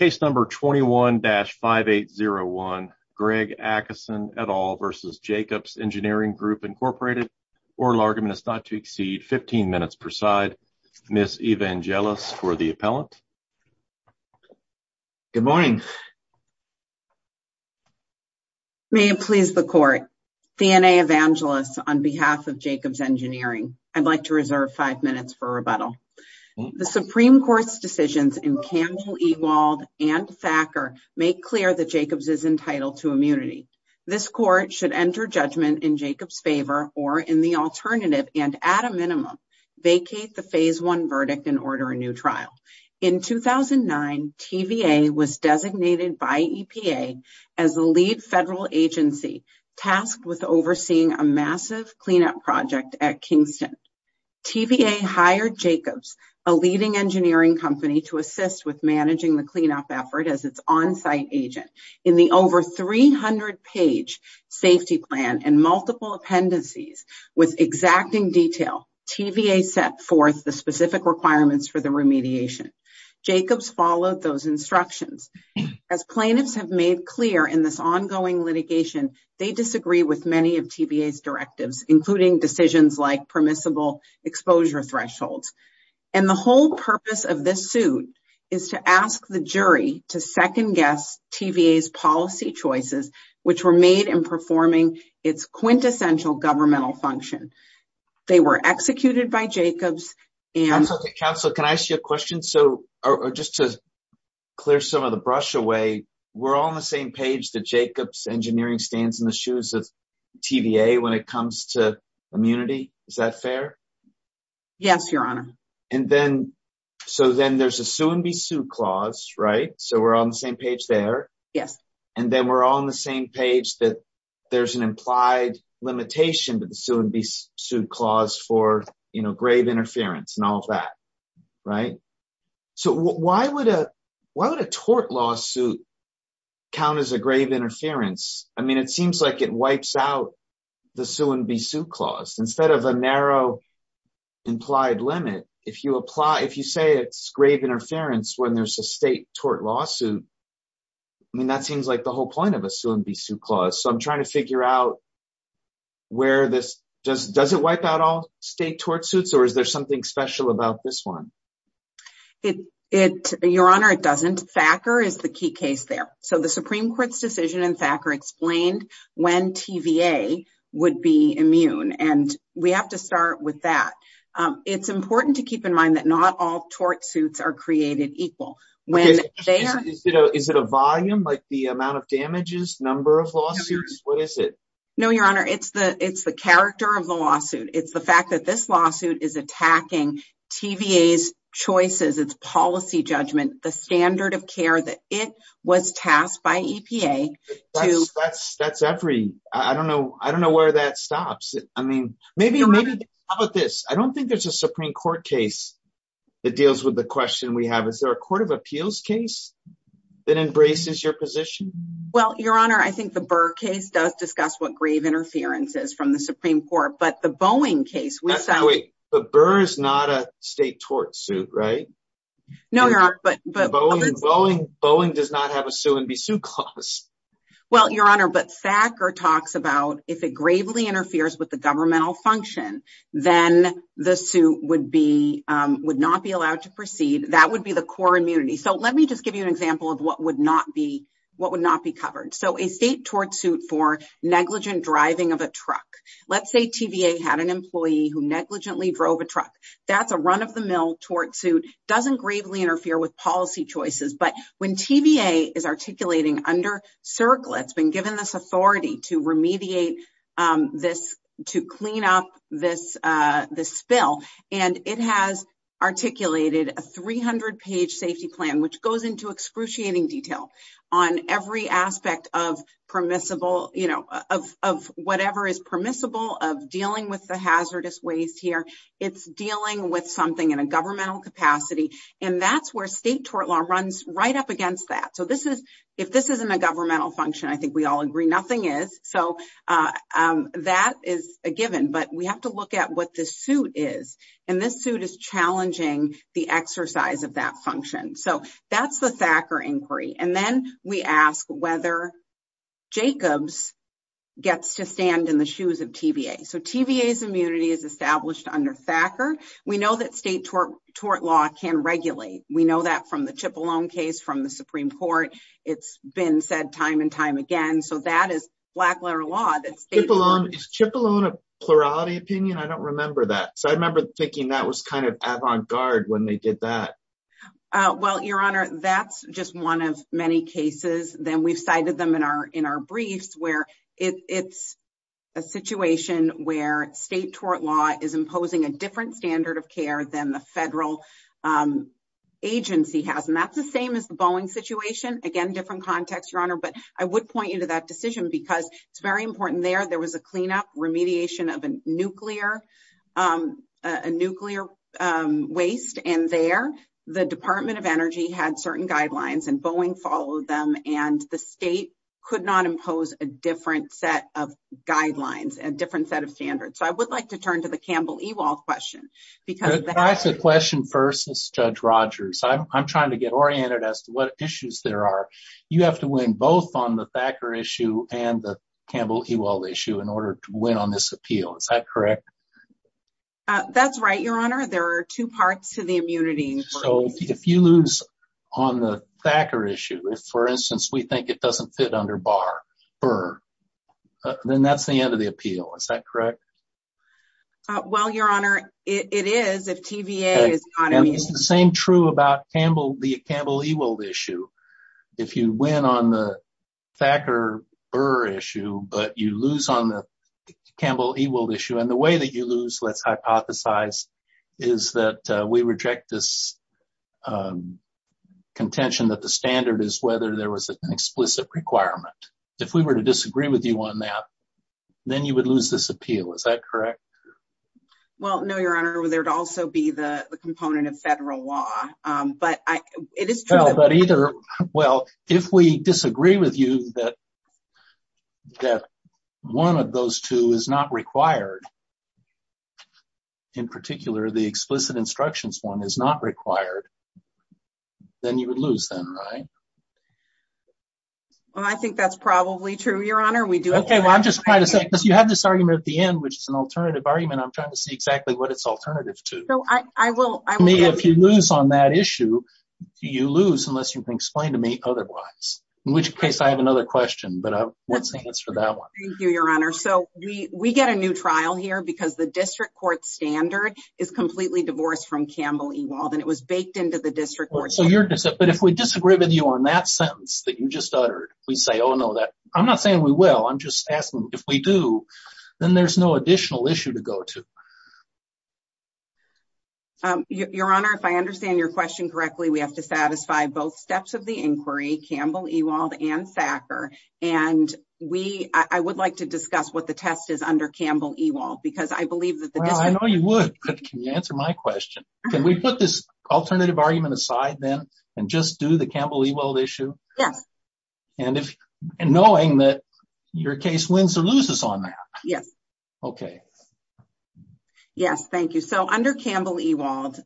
21-5801 Greg Adkisson v. Jacobs Engineering Group Inc. Oral argument is not to exceed 15 minutes per side. Ms. Evangelos for the appellant. Good morning. May it please the court. D.N.A. Evangelos on behalf of Jacobs Engineering. I'd like to reserve five minutes for rebuttal. The Supreme Court's decisions in Campbell, Ewald, and Thacker make clear that Jacobs is entitled to immunity. This court should enter judgment in Jacobs' favor or in the alternative and, at a minimum, vacate the Phase I verdict and order a new trial. In 2009, TVA was designated by EPA as the lead federal agency tasked with overseeing a massive cleanup project at Kingston. TVA hired Jacobs, a leading engineering company, to assist with managing the cleanup effort as its on-site agent. In the over 300-page safety plan and multiple appendices with exacting detail, TVA set forth the specific requirements for the remediation. Jacobs followed those instructions. As plaintiffs have made clear in this ongoing litigation, they disagree with many of TVA's directives, including decisions like permissible exposure thresholds. And the whole purpose of this suit is to ask the jury to second-guess TVA's policy choices, which were made in performing its quintessential governmental function. They were executed by Jacobs and- Counselor, can I ask you a question? Just to clear some of the brush away, we're all on the same page that Jacobs Engineering stands in the shoes of TVA when it comes to immunity, is that fair? Yes, Your Honor. And then, so then there's a sue and be sued clause, right? So we're all on the same page there. Yes. And then we're all on the same page that there's an implied limitation to the sue and be sued clause for grave interference and all of that, right? So why would a tort lawsuit count as a grave interference? I mean, it seems like it wipes out the sue and be sued clause. Instead of a narrow implied limit, if you say it's grave interference when there's a state tort lawsuit, I mean, that seems like the whole point of a sue and be sued clause. So I'm trying to figure out where this- Does it wipe out all state tort suits, or is there something special about this one? Your Honor, it doesn't. Thacker is the key case there. So the Supreme Court's decision in Thacker explained when TVA would be immune, and we have to start with that. It's important to keep in mind that not all tort suits are created equal. Is it a volume, like the amount of damages, number of lawsuits? What is it? No, Your Honor. It's the character of the lawsuit. It's the fact that this lawsuit is attacking TVA's choices, its policy judgment, the standard of care that it was tasked by EPA to- That's every- I don't know where that stops. I mean, maybe- Your Honor- How about this? I don't think there's a Supreme Court case that deals with the question we have. Is there a court of appeals case that embraces your position? Well, Your Honor, I think the Burr case does discuss what grave interference is from the Supreme Court, but the Boeing case- Wait, but Burr is not a state tort suit, right? No, Your Honor, but- Boeing does not have a sue-and-be-sued clause. Well, Your Honor, but Thacker talks about if it gravely interferes with the governmental function, then the suit would not be allowed to proceed. That would be the core immunity. So let me just give you an example of what would not be covered. So a state tort suit for negligent driving of a truck. Let's say TVA had an employee who negligently drove a truck. That's a run-of-the-mill tort suit. Doesn't gravely interfere with policy choices, but when TVA is articulating under CERCLA, it's been given this authority to remediate this- to clean up this spill, and it has articulated a 300-page safety plan, which goes into excruciating detail on every aspect of permissible- of whatever is permissible of dealing with the hazardous waste here. It's dealing with something in a governmental capacity, and that's where state tort law runs right up against that. So if this isn't a governmental function, I think we all agree nothing is. So that is a given, but we have to look at what the suit is, and this suit is challenging the exercise of that function. So that's the Thacker inquiry. And then we ask whether Jacobs gets to stand in the shoes of TVA. So TVA's immunity is established under Thacker. We know that state tort law can regulate. We know that from the Cipollone case from the Supreme Court. It's been said time and time again. So that is black-letter law that state- Is Cipollone a plurality opinion? I don't remember that. So I remember thinking that was kind of avant-garde when they did that. Well, Your Honor, that's just one of many cases. Then we've cited them in our briefs where it's a situation where state tort law is imposing a different standard of care than the federal agency has. And that's the same as the Boeing situation. Again, different context, Your Honor, but I would point you to that decision because it's very important there. There was a cleanup remediation of a nuclear waste, and there the Department of Energy had certain guidelines and Boeing followed them, and the state could not impose a different set of guidelines, a different set of standards. So I would like to turn to the Campbell-Ewald question. Can I ask a question first, Judge Rogers? I'm trying to get oriented as to what issues there are. You have to win both on the Thacker issue and the Campbell-Ewald issue in order to win on this appeal. Is that correct? That's right, Your Honor. There are two parts to the immunity. So if you lose on the Thacker issue, if, for instance, we think it doesn't fit under Barr, then that's the end of the appeal. Is that correct? Well, Your Honor, it is if TVA is not immune. And it's the same true about the Campbell-Ewald issue. If you win on the Thacker-Burr issue, but you lose on the Campbell-Ewald issue, and the way that you lose, let's hypothesize, is that we reject this contention that the standard is whether there was an explicit requirement. If we were to disagree with you on that, then you would lose this appeal. Is that correct? Well, no, Your Honor. There would also be the component of federal law. But it is true. Well, if we disagree with you that one of those two is not required, in particular, the explicit instructions one is not required, then you would lose then, right? Well, I think that's probably true, Your Honor. Okay. Well, I'm just trying to say, because you have this argument at the end, which is an alternative argument. I'm trying to see exactly what it's alternative to. So I will. I mean, if you lose on that issue, you lose unless you can explain to me otherwise, in which case I have another question. But what's the answer to that one? Thank you, Your Honor. So we get a new trial here because the district court standard is completely divorced from Campbell-Ewald, and it was baked into the district court. But if we disagree with you on that sentence that you just uttered, we say, oh, no. I'm not saying we will. I'm just asking if we do, then there's no additional issue to go to. Your Honor, if I understand your question correctly, we have to satisfy both steps of the inquiry, Campbell-Ewald and Thacker. And I would like to discuss what the test is under Campbell-Ewald, because I believe that the district. Well, I know you would, but can you answer my question? Can we put this alternative argument aside then and just do the Campbell-Ewald issue? Yes. And knowing that your case wins or loses on that. Yes. Okay. Yes. Thank you. So under Campbell-Ewald,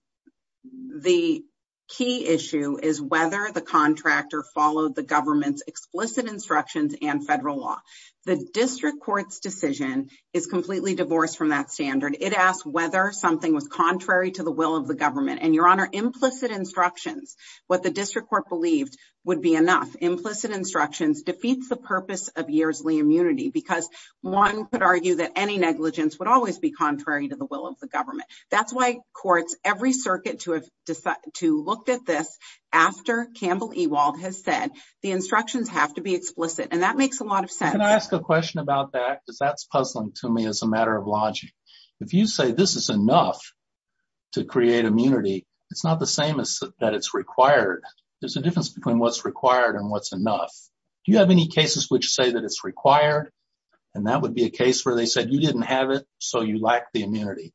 the key issue is whether the contractor followed the government's explicit instructions and federal law. The district court's decision is completely divorced from that standard. It asks whether something was contrary to the will of the government. And your Honor, implicit instructions, what the district court believed would be enough. Implicit instructions defeats the purpose of years Lee immunity, because one could argue that any negligence would always be contrary to the will of the government. That's why courts, every circuit to have decided to look at this after Campbell-Ewald has said the instructions have to be explicit. And that makes a lot of sense. Can I ask a question about that? Cause that's puzzling to me as a matter of logic. If you say this is enough to create immunity, it's not the same as that it's required. There's a difference between what's required and what's enough. Do you have any cases which say that it's required? And that would be a case where they said you didn't have it. So you lack the immunity.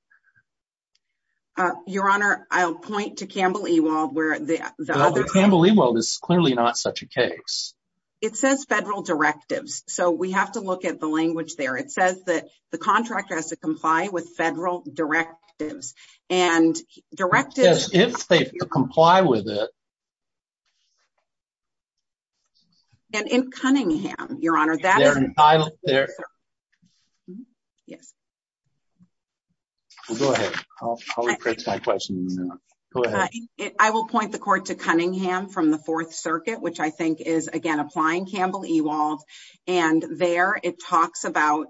Your Honor, I'll point to Campbell-Ewald where the other Campbell-Ewald is clearly not such a case. It says federal directives. So we have to look at the language there. It says that the contractor has to comply with federal directives and directives. If they comply with it. And in Cunningham, your Honor, that title there. Yes. Go ahead. I'll rephrase my question. Go ahead. I will point the court to Cunningham from the fourth circuit, which I think is again, applying Campbell-Ewald and there it talks about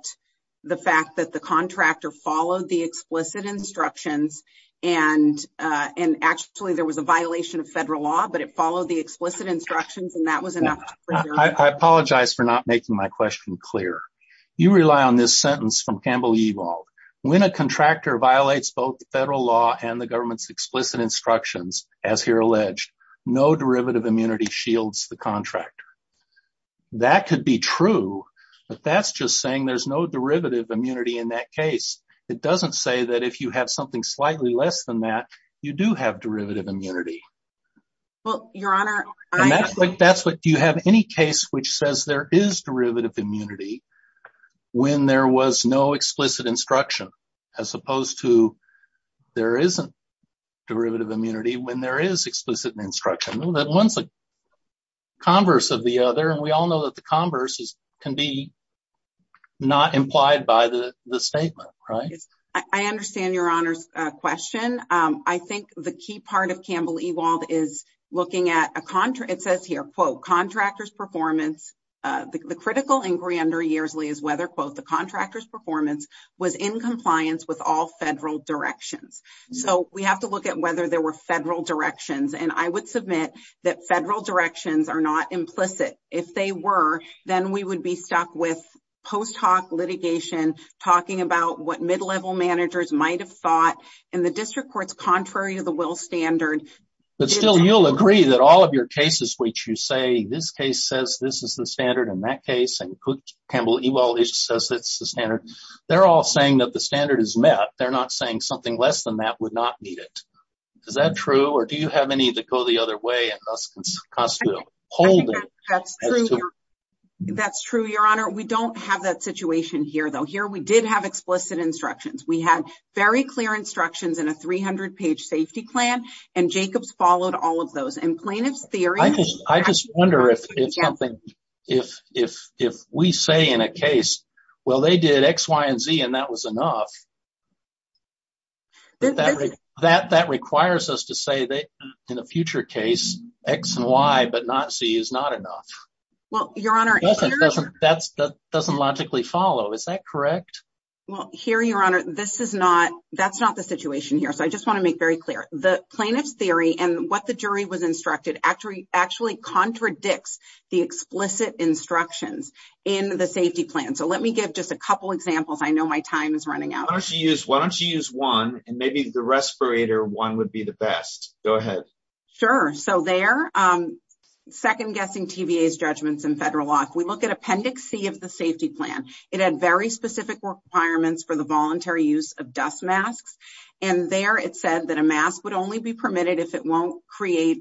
the fact that the contractor followed the explicit instructions and, and actually there was a violation of federal law, but it followed the explicit instructions. And that was enough. I apologize for not making my question clear. You rely on this sentence from Campbell-Ewald. When a contractor violates both the federal law and the government's explicit instructions, as here alleged no derivative immunity shields, the contractor. That could be true, but that's just saying there's no derivative immunity in that case. It doesn't say that if you have something slightly less than that, you do have derivative immunity. Well, your Honor, that's like, that's what you have any case, which says there is derivative immunity. When there was no explicit instruction, as opposed to there isn't derivative immunity when there is explicit instruction, that one's like converse of the other. And we all know that the converse is, can be not implied by the statement, right? I understand your Honor's question. I think the key part of Campbell-Ewald is looking at a contract. It says here, quote contractors performance, the critical inquiry under years, Lee is whether quote, the contractor's performance was in compliance with all federal directions. So we have to look at whether there were federal directions. And I would submit that federal directions are not implicit. If they were, then we would be stuck with post hoc litigation, talking about what mid-level managers might've thought in the district courts, contrary to the will standard. But still you'll agree that all of your cases, which you say this case says, this is the standard in that case. And Campbell-Ewald says, that's the standard. They're all saying that the standard is met. They're not saying something less than that would not need it. Is that true? Or do you have any that go the other way? That's true. That's true. Your Honor. We don't have that situation here though, here we did have explicit instructions. We had very clear instructions in a 300 page safety plan and Jacobs followed all of those and plaintiff's theory. I just wonder if it's something, if, if, if we say in a case, well, they did X, Y, and Z. And that was enough. That requires us to say that in a future case X and Y, but not C is not enough. Well, your Honor. That doesn't logically follow. Is that correct? Well, here, your Honor, this is not, that's not the situation here. So I just want to make very clear the plaintiff's theory and what the jury was instructed actually, actually contradicts the explicit instructions in the safety plan. So let me give just a couple examples. I know my time is running out. Why don't you use one and maybe the respirator one would be the best. Go ahead. Sure. So they're second guessing TVA's judgments in federal law. If we look at appendix C of the safety plan, it had very specific requirements for the voluntary use of dust masks. And there it said that a mask would only be permitted if it won't create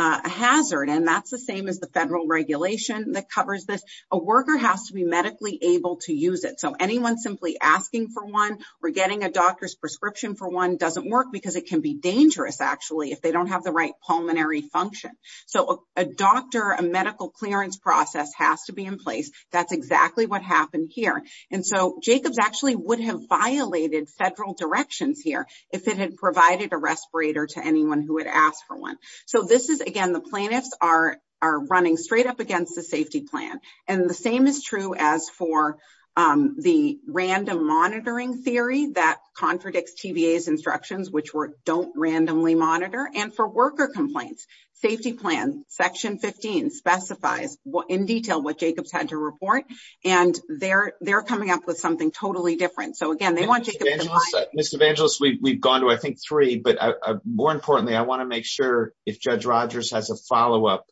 a hazard. And that's the same as the federal regulation that covers this. A worker has to be medically able to use it. So anyone simply asking for one or getting a doctor's prescription for one doesn't work because it can be dangerous actually, if they don't have the right pulmonary function. So a doctor, a medical clearance process has to be in place. That's exactly what happened here. And so Jacobs actually would have violated federal directions here if it had provided a respirator to anyone who had asked for one. So this is, again, the plaintiffs are running straight up against the safety plan. And the same is true as for the random monitoring theory that contradicts TVA's instructions, which were don't randomly monitor. And for worker complaints, safety plan, section 15, specifies in detail what Jacobs had to report. And they're coming up with something totally different. So again, they want Jacobs in line. Ms. Evangelos, we've gone to, I think, three, but more importantly, I want to make sure if Judge Rogers has a follow-up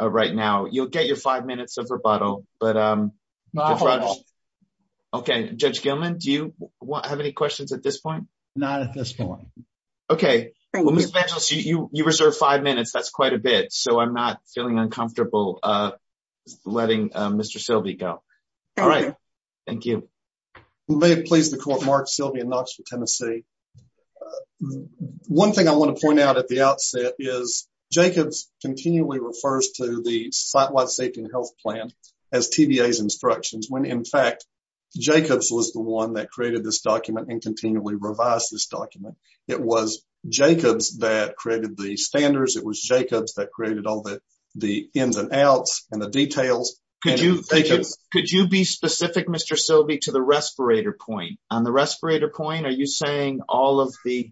right now, you'll get your five minutes of rebuttal. Not at all. Okay. Judge Gilman, do you have any questions at this point? Not at this point. Okay. Ms. Evangelos, you reserve five minutes. That's quite a bit. So I'm not feeling uncomfortable letting Mr. Sylvie go. All right. Thank you. May it please the court, Mark Sylvie in Knoxville, Tennessee. One thing I want to point out at the outset is Jacobs continually refers to the site-wide safety and health plan as TVA's instructions, when in fact Jacobs was the one that created this document and continually revised this document. It was Jacobs that created the standards. It was Jacobs that created all the ins and outs and the details. Could you be specific, Mr. Sylvie, to the respirator point? On the respirator point, are you saying all of the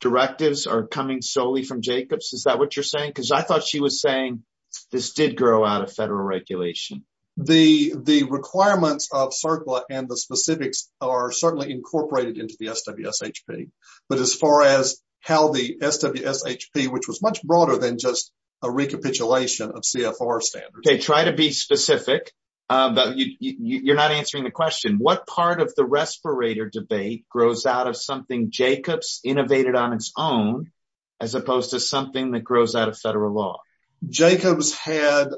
directives are coming solely from Jacobs? Is that what you're saying? Because I thought she was saying this did grow out of federal regulation. The requirements of CERCLA and the specifics are certainly incorporated into the SWSHP. But as far as how the SWSHP, which was much broader than just a recapitulation of CFR standards. Try to be specific. You're not answering the question. What part of the respirator debate grows out of something Jacobs innovated on its own, as opposed to something that grows out of federal law? Jacobs had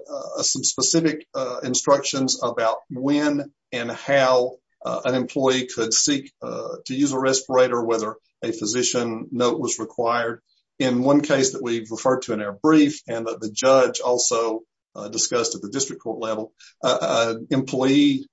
some specific instructions about when and how an employee could seek to use a respirator, whether a physician note was required. In one case that we've referred to in our brief, and that the judge also discussed at the district court level, an employee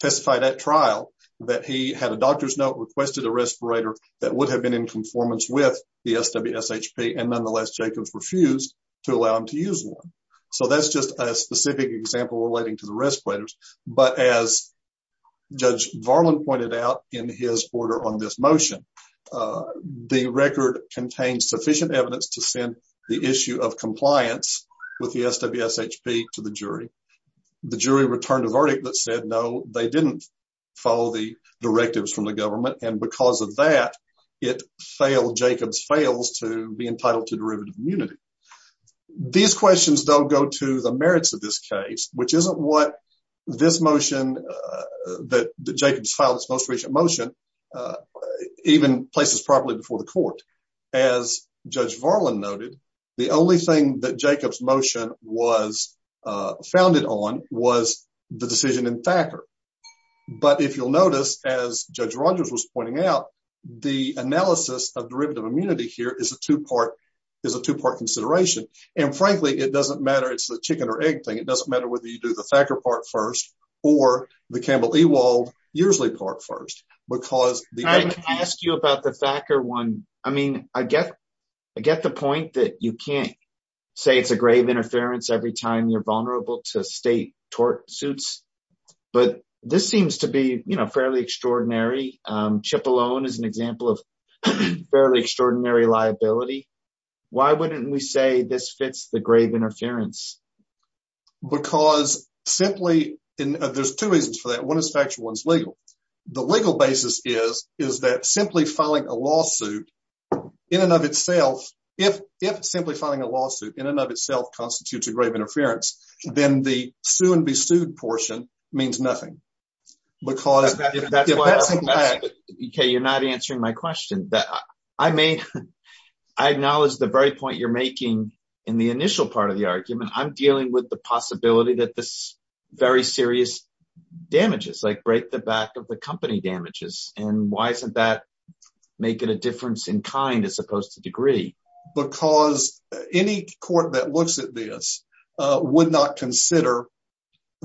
testified at trial that he had a doctor's note, requested a respirator that would have been in conformance with the SWSHP. And nonetheless, Jacobs refused to allow him to use one. So that's just a specific example relating to the respirators. But as Judge Varlin pointed out in his order on this motion, the record contains sufficient evidence to send the issue of compliance with the SWSHP to the jury. The jury returned a verdict that said, no, they didn't follow the directives from the government. And because of that, it failed, Jacobs fails to be entitled to derivative immunity. These questions don't go to the merits of this case, which isn't what this motion that Jacobs filed its most recent motion, even places properly before the court. As Judge Varlin noted, the only thing that Jacobs motion was founded on was the decision in Thacker. But if you'll notice, as Judge Rogers was pointing out, the analysis of derivative immunity here is a two part consideration. And frankly, it doesn't matter. It's the chicken or egg thing. It doesn't matter whether you do the Thacker part first or the Campbell Ewald Yearsley part first. I can ask you about the Thacker one. I mean, I get the point that you can't say it's a grave interference every time you're vulnerable to state tort suits. But this seems to be fairly extraordinary. Chip Malone is an example of fairly extraordinary liability. Why wouldn't we say this fits the grave interference? Because simply there's two reasons for that. One is factual, one is legal. The legal basis is, is that simply filing a lawsuit in and of itself, if simply filing a lawsuit in and of itself constitutes a grave interference, then the sue and be sued portion means nothing. Okay, you're not answering my question. I mean, I acknowledge the very point you're making in the initial part of the argument. I'm dealing with the possibility that this very serious damages, like break the back of the company damages. And why isn't that making a difference in kind as opposed to degree? Because any court that looks at this would not consider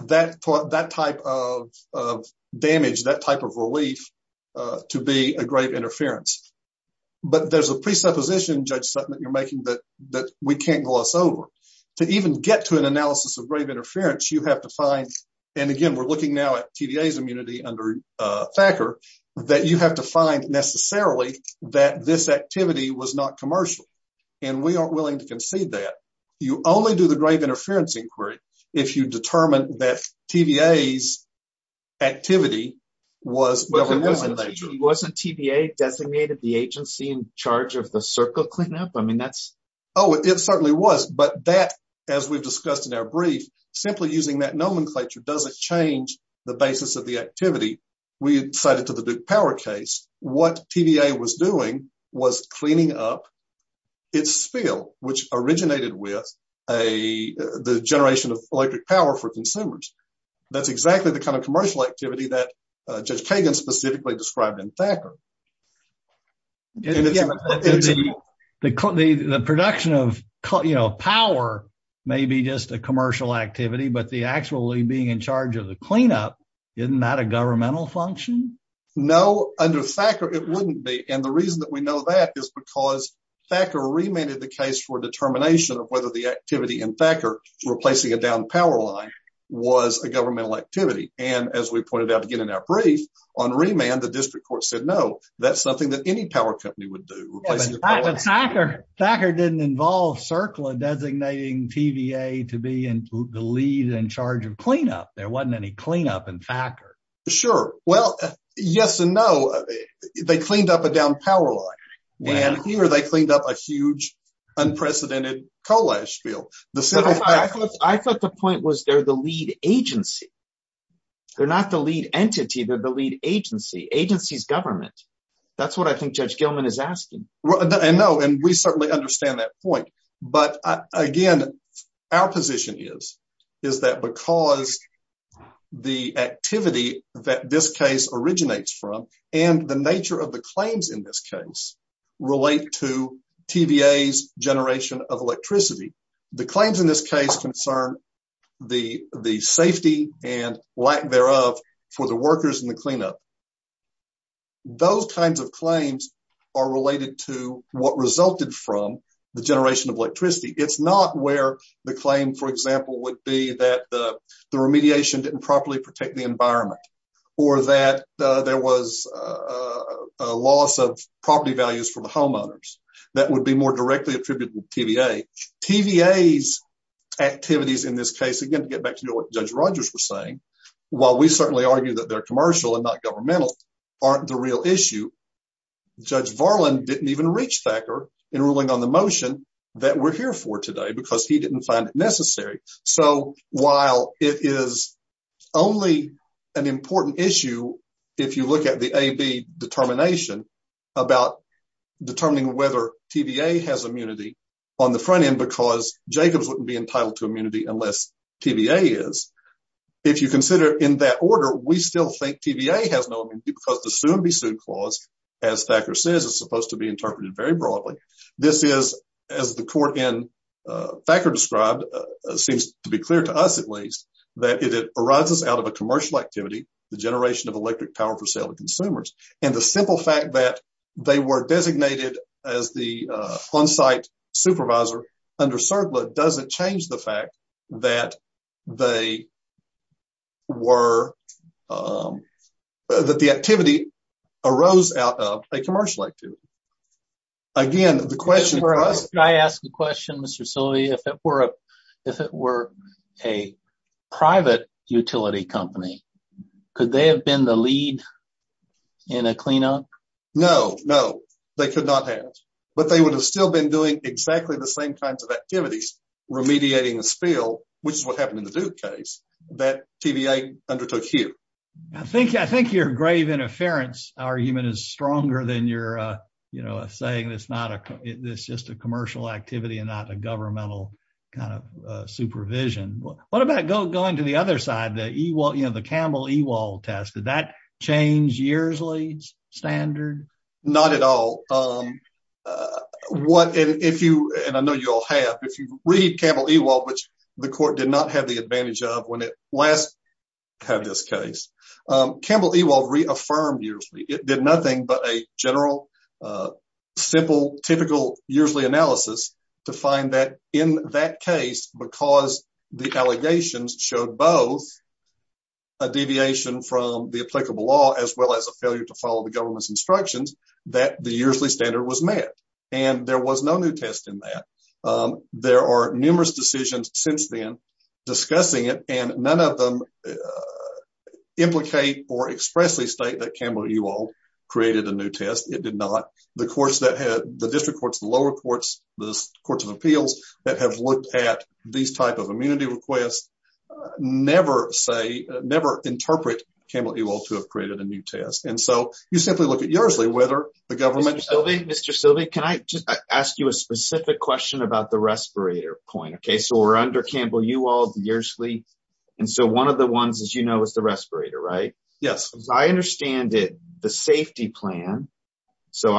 that, that type of damage, that type of relief to be a grave interference. But there's a presupposition, Judge Sutton, that you're making that we can't gloss over. To even get to an analysis of grave interference, you have to find, and again, we're looking now at TDA's immunity under Thacker, that you have to find necessarily that this activity was not commercial. And we aren't willing to concede that. You only do the grave interference inquiry. If you determine that TVA's activity was. Wasn't TVA designated the agency in charge of the circle cleanup? I mean, that's. Oh, it certainly was. But that, as we've discussed in our brief, simply using that nomenclature, doesn't change the basis of the activity. We cited to the Duke power case, what TVA was doing was cleaning up its spill, which originated with the generation of electric power for consumers. That's exactly the kind of commercial activity that Judge Kagan specifically described in Thacker. The production of power may be just a commercial activity, but the actually being in charge of the cleanup, isn't that a governmental function? No, under Thacker, it wouldn't be. And the reason that we know that is because Thacker remanded the case for determination of whether the activity in Thacker replacing a downed power line was a governmental activity. And as we pointed out to get in our brief on remand, the district court said, no, that's something that any power company would do. Thacker didn't involve CERCLA designating TVA to be in the lead and charge of cleanup. There wasn't any cleanup in Thacker. Sure. Well, yes and no. They cleaned up a downed power line. And here they cleaned up a huge unprecedented coal ash spill. I thought the point was they're the lead agency. They're not the lead entity. They're the lead agency. Agency's government. That's what I think Judge Gilman is asking. I know. And we certainly understand that point. But again, our position is that because the activity that this case originates from and the nature of the claims in this case relate to TVA's generation of electricity, the claims in this case concern the safety and lack thereof for the workers in the cleanup. Those kinds of claims are related to what resulted from the generation of electricity. It's not where the claim, for example, would be that the remediation didn't properly protect the environment or that there was a loss of property values for the homeowners that would be more directly attributable to TVA. TVA's activities in this case, again, to get back to what Judge Rogers was saying, while we certainly argue that they're commercial and not governmental, aren't the real issue. Judge Varlin didn't even reach Thacker in ruling on the motion that we're here for today because he didn't find it necessary. So while it is only an important issue, if you look at the AB determination about determining whether TVA has immunity on the front end, because Jacobs wouldn't be entitled to immunity unless TVA is, if you consider in that order, we still think TVA has no immunity because the sue and be sued clause, as Thacker says, is supposed to be interpreted very broadly. This is, as the court in Thacker described, seems to be clear to us at least that it arises out of a commercial activity, the generation of electric power for sale to consumers. And the simple fact that they were designated as the onsite supervisor under CERBLA doesn't change the fact that they were, that the activity arose out of a commercial activity. Again, the question for us. Can I ask a question, Mr. Silvey? If it were a private utility company, could they have been the lead in a cleanup? No, no, they could not have, but they would have still been doing exactly the same kinds of activities remediating the spill, which is what happened in the Duke case, that TVA undertook here. I think your grave interference argument is stronger than your saying it's just a commercial activity and not a governmental kind of supervision. What about going to the other side, the Campbell-Ewald test? Did that change Yearsley's standard? Not at all. And I know you all have. If you read Campbell-Ewald, which the court did not have the advantage of when it last had this case, Campbell-Ewald reaffirmed Yearsley. It did nothing but a general, simple, typical Yearsley analysis to find that in that case, because the allegations showed both a deviation from the applicable law, as well as a failure to follow the government's instructions, that the Yearsley standard was met. And there was no new test in that. There are numerous decisions since then discussing it, and none of them implicate or expressly state that Campbell-Ewald created a new test. It did not. The district courts, the lower courts, the courts of appeals that have looked at these type of immunity requests never interpret Campbell-Ewald to have created a new test. And so you simply look at Yearsley, whether the government- Mr. Silvey, can I just ask you a specific question about the respirator point? Okay, so we're under Campbell-Ewald, Yearsley. And so one of the ones, as you know, is the respirator, right? Yes. As I understand it, the safety plan. So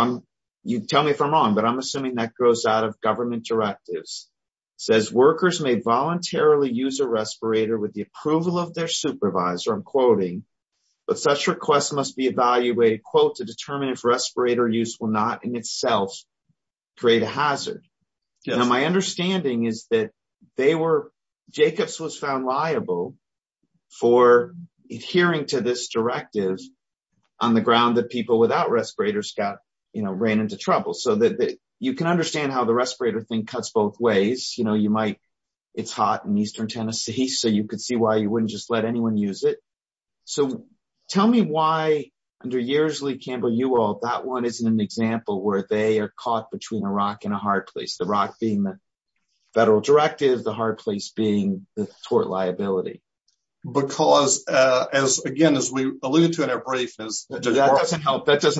you tell me if I'm wrong, but I'm assuming that goes out of government directives. It says, workers may voluntarily use a respirator with the approval of their supervisor. I'm quoting, but such requests must be evaluated, quote, to determine if respirator use will not in itself create a hazard. Now my understanding is that they were, Jacobs was found liable for adhering to this directive on the ground that people without respirators got, you know, ran into trouble. So that you can understand how the respirator thing cuts both ways. You know, you might, it's hot in Eastern Tennessee, so you could see why you wouldn't just let anyone use it. So tell me why under Yearsley, Campbell-Ewald, that one isn't an example where they are caught between a rock and a hard place, the rock being the federal directive, the hard place being the tort liability. Because as again, as we alluded to in our brief, that doesn't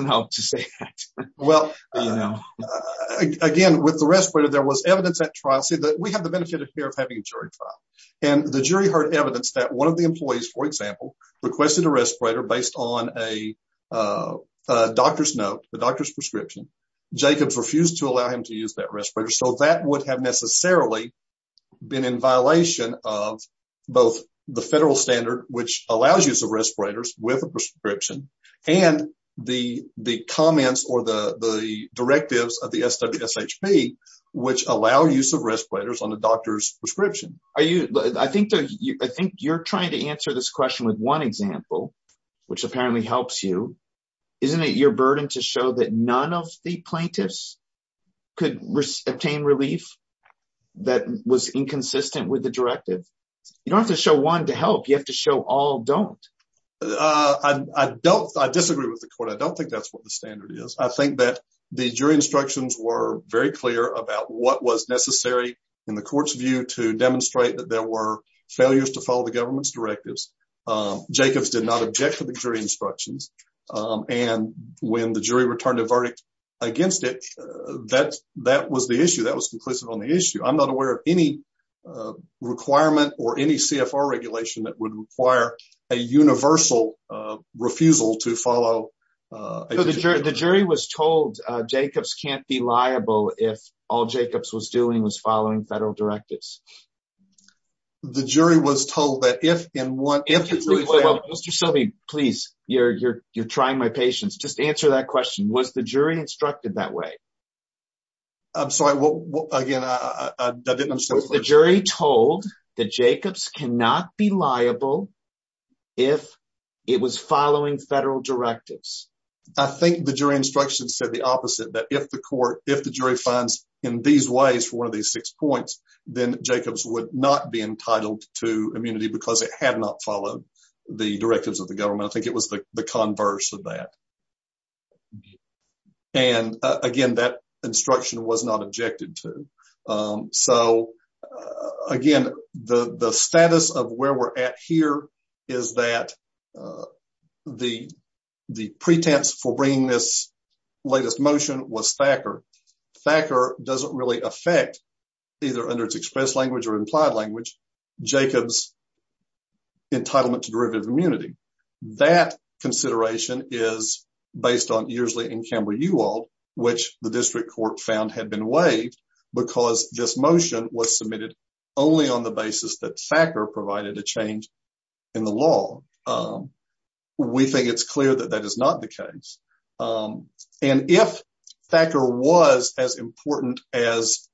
help to say that. Well, again, with the respirator, there was evidence at trial say that we have the benefit of having a jury trial and the jury heard evidence that one of the employees, for example, requested a respirator based on a doctor's note, the doctor's prescription, Jacobs refused to allow him to use that respirator. So that would have necessarily been in violation of both the federal standard, which allows use of respirators with a prescription and the comments or the directives of the SWSHP, which allow use of respirators on a doctor's prescription. I think you're trying to answer this question with one example, which apparently helps you. Isn't it your burden to show that none of the plaintiffs could obtain relief that was inconsistent with the directive? You don't have to show one to help. You have to show all don't. I don't, I disagree with the court. I don't think that's what the standard is. I think that the jury instructions were very clear about what was necessary in the court's view to demonstrate that there were failures to follow the government's directives. Jacobs did not object to the jury instructions. And when the jury returned a verdict against it, that was the issue. That was conclusive on the issue. I'm not aware of any requirement or any CFR regulation that would require a universal refusal to follow. The jury was told Jacobs can't be liable. If all Jacobs was doing was following federal directives. The jury was told that if in one. Mr. Sylvie, please. You're, you're, you're trying my patience. Just answer that question. Was the jury instructed that way? I'm sorry. Well, again, I didn't understand. The jury told that Jacobs cannot be liable if it was following federal directives. I think the jury instructions said the opposite, that if the court, if the jury finds in these ways for one of these six points, then Jacobs would not be entitled to immunity because it had not followed the directives of the government. I think it was the converse of that. And again, that instruction was not objected to. So again, the, the status of where we're at here is that the, the pretense for bringing this latest motion was Thacker. Thacker doesn't really affect either under its express language or implied language. Jacobs. Entitlement to derivative immunity. That consideration is based on usually in camera you all, which the district court found had been waived because this motion was submitted only on the basis that Thacker provided a change in the law. We think it's clear that that is not the case. And if Thacker was as important as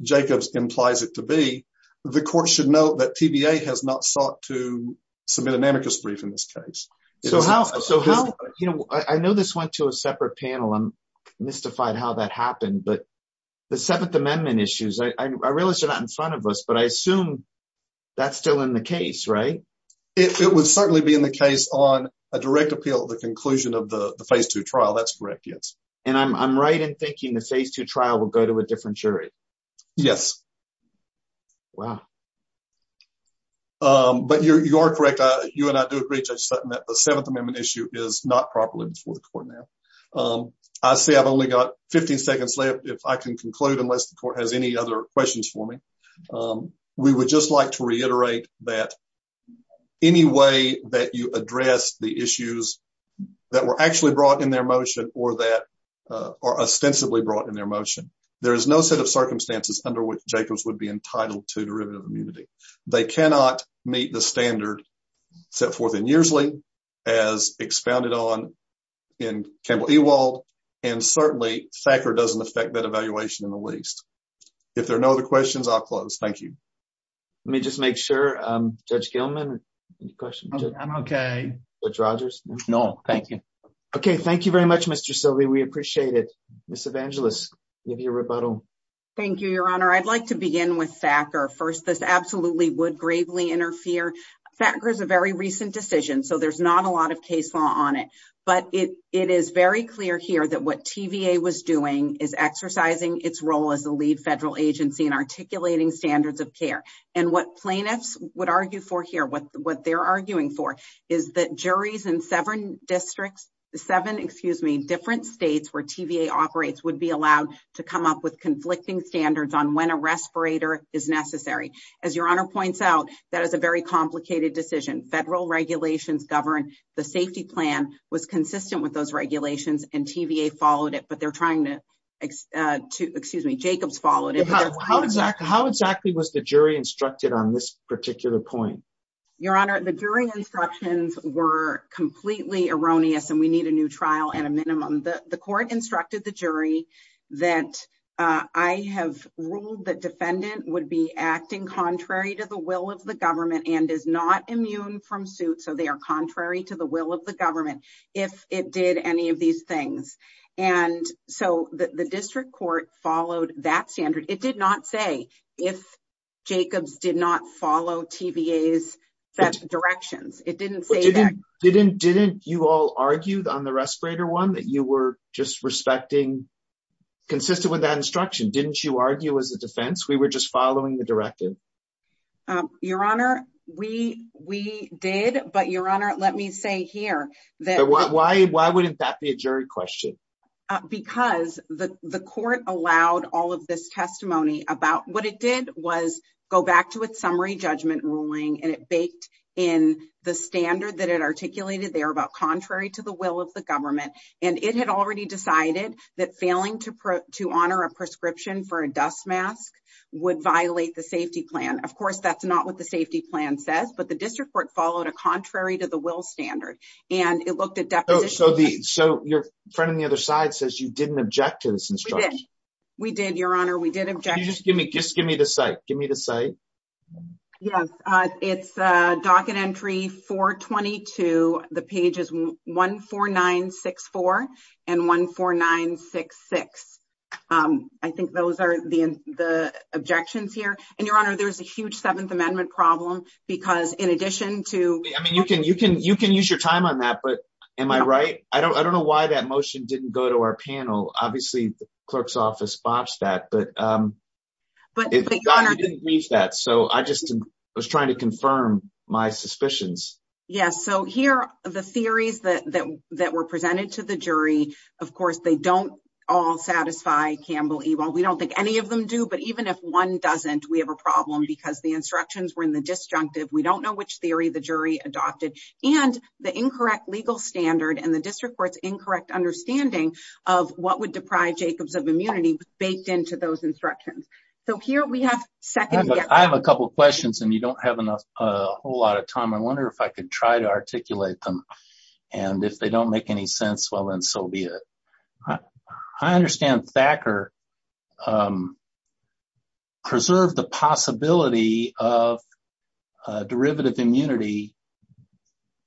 Jacobs implies it to be, the court should know that TBA has not sought to submit an amicus brief in this case. So how, so how, you know, I know this went to a separate panel. I'm mystified how that happened, but the seventh amendment issues, I realized you're not in front of us, but I assume that's still in the case, right? It would certainly be in the case on a direct appeal to the conclusion of the phase two trial. That's correct. Yes. And I'm right in thinking the phase two trial will go to a different jury. Yes. Wow. But you're, you are correct. You and I do agree that the seventh amendment issue is not properly before the court. Now I say I've only got 15 seconds left. If I can conclude unless the court has any other questions for me. We would just like to reiterate that any way that you address the issues that were actually brought in their motion or that are ostensibly brought in their motion, there is no set of circumstances under which Jacobs would be entitled to derivative immunity. They cannot meet the standard set forth in years late as expounded on in Campbell Ewald and certainly Thacker doesn't affect that evaluation in the least. If there are no other questions, I'll close. Thank you. Let me just make sure I'm judge Gilman question. I'm okay with Rogers. No, thank you. Okay. Thank you very much, Mr. Sylvie. We appreciate it. Ms. Evangelist, give you a rebuttal. Thank you, your honor. I'd like to begin with Thacker first. This absolutely would gravely interfere. Thacker is a very recent decision, so there's not a lot of case law on it, but it is very clear here that what TVA was doing is exercising its role as the lead federal agency and articulating standards of care and what plaintiffs would argue for here, what they're arguing for is that juries in seven districts, seven, excuse me, different states where TVA operates would be allowed to come up with conflicting standards on when a respirator is necessary. As your honor points out, that is a very complicated decision. Federal regulations govern the safety plan was consistent with those regulations and TVA followed it, but they're trying to, excuse me, Jacobs followed it. How exactly was the jury instructed on this particular point? Your honor, the jury instructions were completely erroneous and we need a new trial and a minimum. The court instructed the jury that, uh, I have ruled that defendant would be acting contrary to the will of the government and is not immune from suit. So they are contrary to the will of the government if it did any of these things. And so the district court followed that standard. It did not say if Jacobs did not follow TVA's directions. It didn't say that. Didn't you all argued on the respirator one that you were just respecting consistent with that instruction. Didn't you argue as a defense, we were just following the directive. Um, your honor, we, we did, but your honor, let me say here. Why wouldn't that be a jury question? Because the, the court allowed all of this testimony about what it did was go back to its summary judgment ruling and it baked in the standard that it articulated there about contrary to the will of the government. And it had already decided that failing to, to honor a prescription for a dust mask would violate the safety plan. Of course, that's not what the safety plan says, but the district court followed a contrary to the will standard. And it looked at deposition. So the, so your friend on the other side says you didn't object to this. We did your honor. We did object. Just give me, just give me the site. Give me the site. Yes. Uh, it's a docket entry for 22. The page is one four nine six four and one four nine six six. Um, I think those are the, the objections here and your honor, there's a huge seventh amendment problem because in addition to, I mean, you can, you can, you can use your time on that, but am I right? I don't, I don't know why that motion didn't go to our panel. Obviously the clerk's office botched that, but, um, but it didn't reach that. So I just was trying to confirm my suspicions. Yes. So here are the theories that, that, that were presented to the jury. Of course, they don't all satisfy Campbell evil. We don't think any of them do, but even if one doesn't, we have a problem because the instructions were in the disjunctive. We don't know which theory the jury adopted and the incorrect legal standard and the district court's incorrect understanding of what would deprive Jacobs of immunity baked into those instructions. So here we have second, I have a couple of questions and you don't have enough, a whole lot of time. I wonder if I could try to articulate them and if they don't make any sense, well then so be it. I understand Thacker, um, a derivative immunity,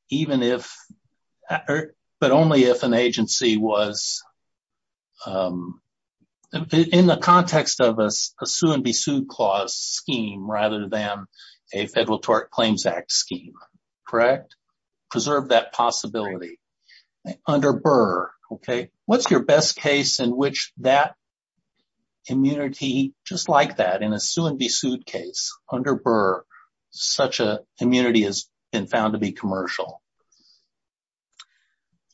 even if, but only if an agency was, um, in the context of us, a sue and be sued clause scheme rather than a federal tort claims act scheme. Correct. Preserve that possibility under Burr. Okay. What's your best case in which that immunity just like that in a sue and be sued case under Burr, such a immunity has been found to be commercial.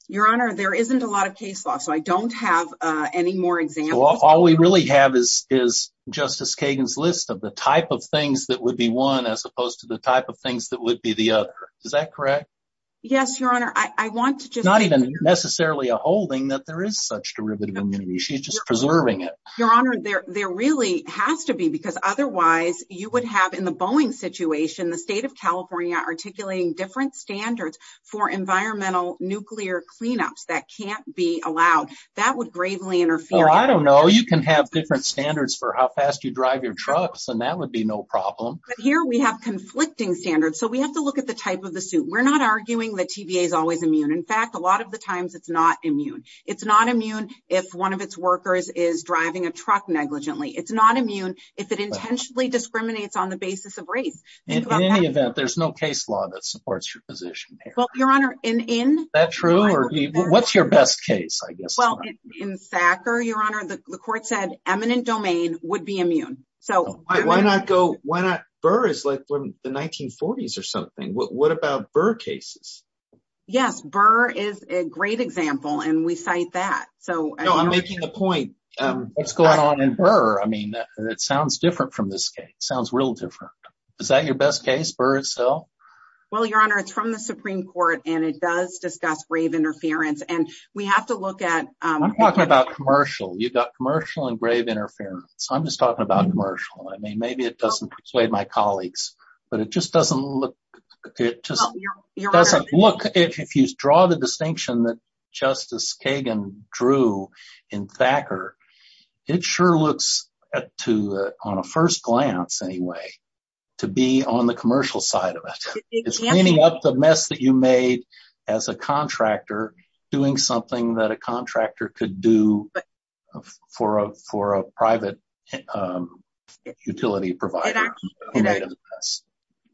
Your honor, there isn't a lot of case law, so I don't have any more examples. All we really have is, is justice Kagan's list of the type of things that would be one as opposed to the type of things that would be the other. Is that correct? Yes, your honor. I want to just not even necessarily a holding that there is such derivative immunity. She's just preserving it. Your honor. There really has to be because otherwise you would have in the Boeing situation, the state of California articulating different standards for environmental nuclear cleanups that can't be allowed. That would gravely interfere. I don't know. You can have different standards for how fast you drive your trucks and that would be no problem. But here we have conflicting standards. So we have to look at the type of the suit. We're not arguing that TVA is always immune. In fact, a lot of the times it's not immune. It's not immune. If one of its workers is driving a truck negligently, it's not immune. If it intentionally discriminates on the basis of race in any event, there's no case law that supports your position. Well, your honor in, in that true, or what's your best case? I guess in Sacker, your honor, the court said eminent domain would be immune. So why not go? Why not? Burr is like the 1940s or something. What about burr cases? Yes. Burr is a great example. And we cite that. So I'm making the point. What's going on in her. I mean, it sounds different from this case. It sounds real different. Is that your best case for itself? Well, your honor, it's from the Supreme court and it does discuss grave interference and we have to look at. I'm talking about commercial. You've got commercial and grave interference. I'm just talking about commercial. I mean, maybe it doesn't persuade my colleagues, but it just doesn't look good. If you draw the distinction that justice Kagan drew in Thacker, it sure looks at two on a first glance anyway, to be on the commercial side of it, it's cleaning up the mess that you made as a contractor doing something that a contractor could do for a, for a private utility provider.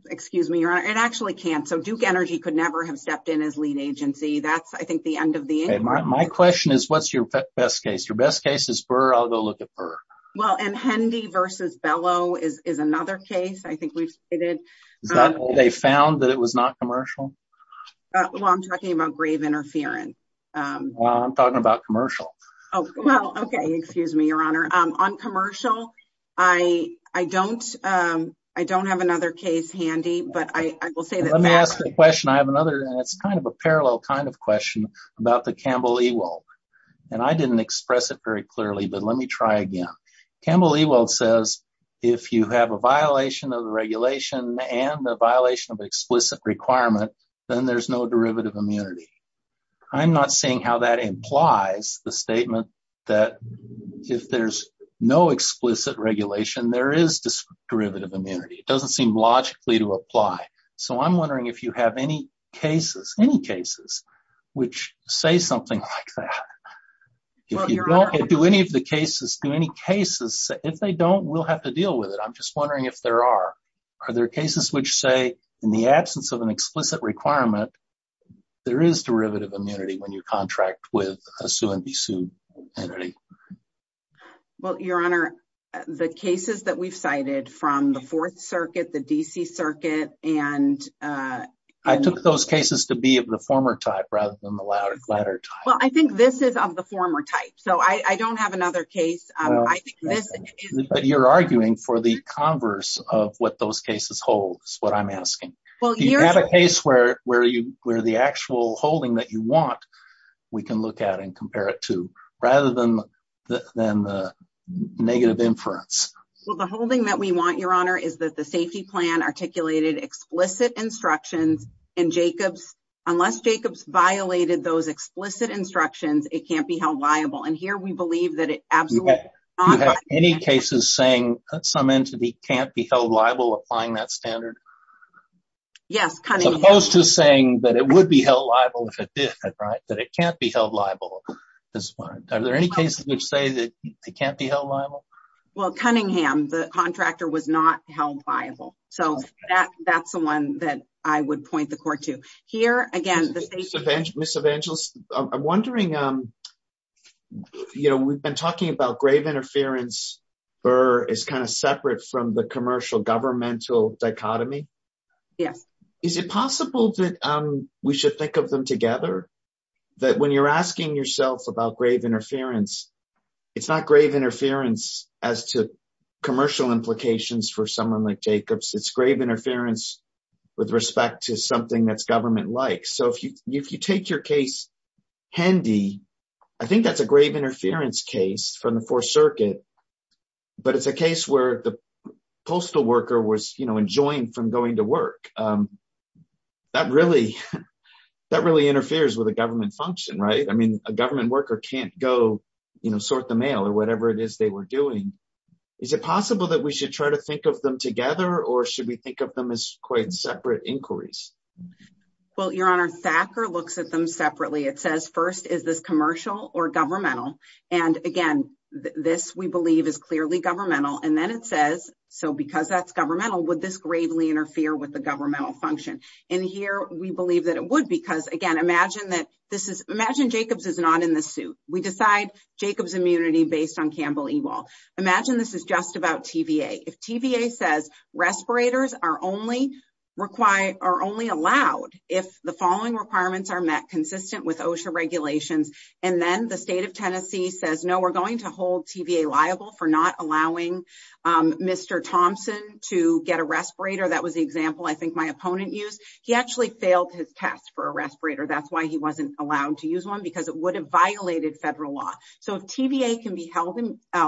Excuse me, your honor. It actually can. So Duke energy could never have stepped in as lead agency. That's I think the end of the. My question is what's your best case. Your best case is for I'll go look at her. Well, and Hendy versus Bellow is, is another case. I think we've stated. They found that it was not commercial. Well, I'm talking about grave interference. I'm talking about commercial. Oh, well, okay. Excuse me, your honor. I'm on commercial. I, I don't I don't have another case handy, but I will say that. The question I have another, and it's kind of a parallel kind of question about the Campbell evil. And I didn't express it very clearly, but let me try again. Campbell evil says, if you have a violation of the regulation and the violation of explicit requirement, then there's no derivative immunity. I'm not seeing how that implies the statement that if there's no explicit regulation, there is this derivative immunity. It doesn't seem logically to apply. So I'm wondering if you have any cases, any cases which say something like that, if you don't do any of the cases, do any cases, if they don't, we'll have to deal with it. I'm just wondering if there are, are there cases which say in the absence of an explicit requirement, there is derivative immunity when you contract with a sue and be sued. Well, your honor, the cases that we've cited from the fourth circuit, the DC circuit, and I took those cases to be of the former type rather than the latter. Well, I think this is of the former type. So I don't have another case, but you're arguing for the converse of what those cases hold is what I'm asking. Well, you have a case where you were the actual holding that you want. We can look at and compare it to rather than the, than the negative inference. Well, the holding that we want your honor is that the safety plan articulated explicit instructions and Jacobs, unless Jacobs violated those explicit instructions, it can't be held liable. And here we believe that it absolutely. Any cases saying that some entity can't be held liable, applying that standard. Yes. As opposed to saying that it would be held liable if it did. Right. That it can't be held liable. Are there any cases which say that they can't be held liable? Well, Cunningham, the contractor was not held liable. So that that's the one that I would point the court to here again, the. Misadventures. I'm wondering, you know, we've been talking about grave interference or is kind of separate from the commercial governmental dichotomy. Yes. Is it possible that we should think of them together that when you're asking yourself about grave interference, it's not grave interference as to commercial implications for someone like Jacobs it's grave interference with respect to something that's government like. So if you, if you take your case handy, I think that's a grave interference case from the fourth circuit, but it's a case where the postal worker was enjoying from going to work. That really, that really interferes with the government function, right? I mean, a government worker can't go, you know, sort the mail or whatever it is they were doing. Is it possible that we should try to think of them together or should we think of them as quite separate inquiries? Well, your honor Thacker looks at them separately. It says, first is this commercial or governmental. And again, this we believe is clearly governmental. And then it says, so because that's governmental, would this gravely interfere with the governmental function in here? We believe that it would, because again, imagine that this is, imagine Jacobs is not in the suit. We decide Jacobs immunity based on Campbell evil. Imagine this is just about TVA. If TVA says respirators are only required, are only allowed. If the following requirements are met consistent with OSHA regulations. And then the state of Tennessee says, no, we're going to hold TVA liable for not allowing Mr. Thompson to get a respirator. That was the example. I think my opponent used, he actually failed his test for a respirator. That's why he wasn't allowed to use one because it would have violated federal law. So if TVA can be held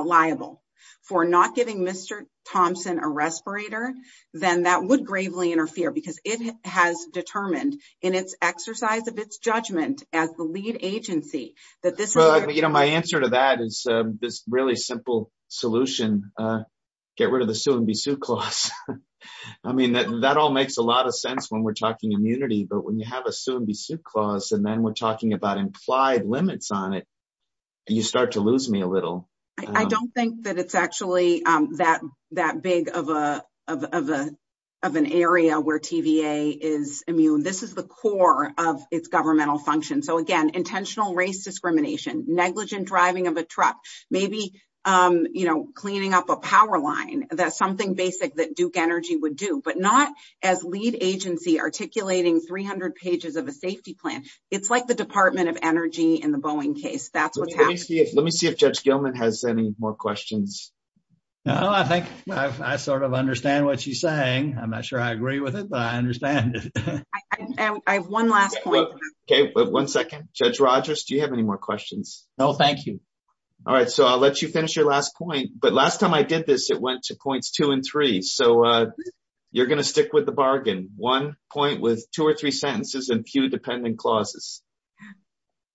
liable for not giving Mr. Thompson a respirator, then that would gravely interfere because it has determined in its exercise of its judgment as the lead agency that this. Well, you know, my answer to that is this really simple solution. Get rid of the suit and be suit clause. I mean, that all makes a lot of sense when we're talking immunity, but when you have a suit and be suit clause, and then we're talking about implied limits on it, you start to lose me a little. I don't think that it's actually that, that big of a, of a, of an area where TVA is immune. This is the core of its governmental function. So again, intentional race discrimination, negligent driving of a truck, maybe, you know, cleaning up a power line. That's something basic that Duke energy would do, but not as lead agency articulating 300 pages of a safety plan. It's like the department of energy in the Boeing case. That's what's happening. Let me see if judge Gilman has any more questions. No, I think I sort of understand what she's saying. I'm not sure I agree with it, but I understand. I have one last point. Okay. One second, judge Rogers. Do you have any more questions? No, thank you. All right. So I'll let you finish your last point, but last time I did this, it went to points two and three. So you're going to stick with the bargain one point with two or three sentences and pew dependent clauses.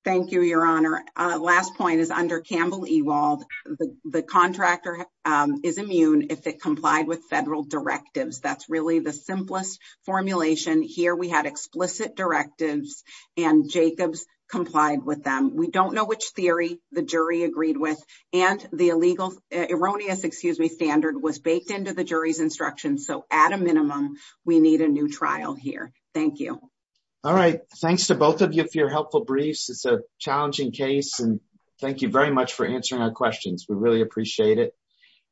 Thank you. Your honor. Last point is under Campbell Ewald. The contractor is immune. If it complied with federal directives, that's really the simplest formulation here. We had explicit directives and Jacobs complied with them. We don't know which theory the jury agreed with and the illegal erroneous, excuse me, standard was baked into the jury's instruction. So at a minimum, we need a new trial here. Thank you. All right. Thanks to both of you for your helpful briefs. It's a challenging case. And thank you very much for answering our questions. We really appreciate it.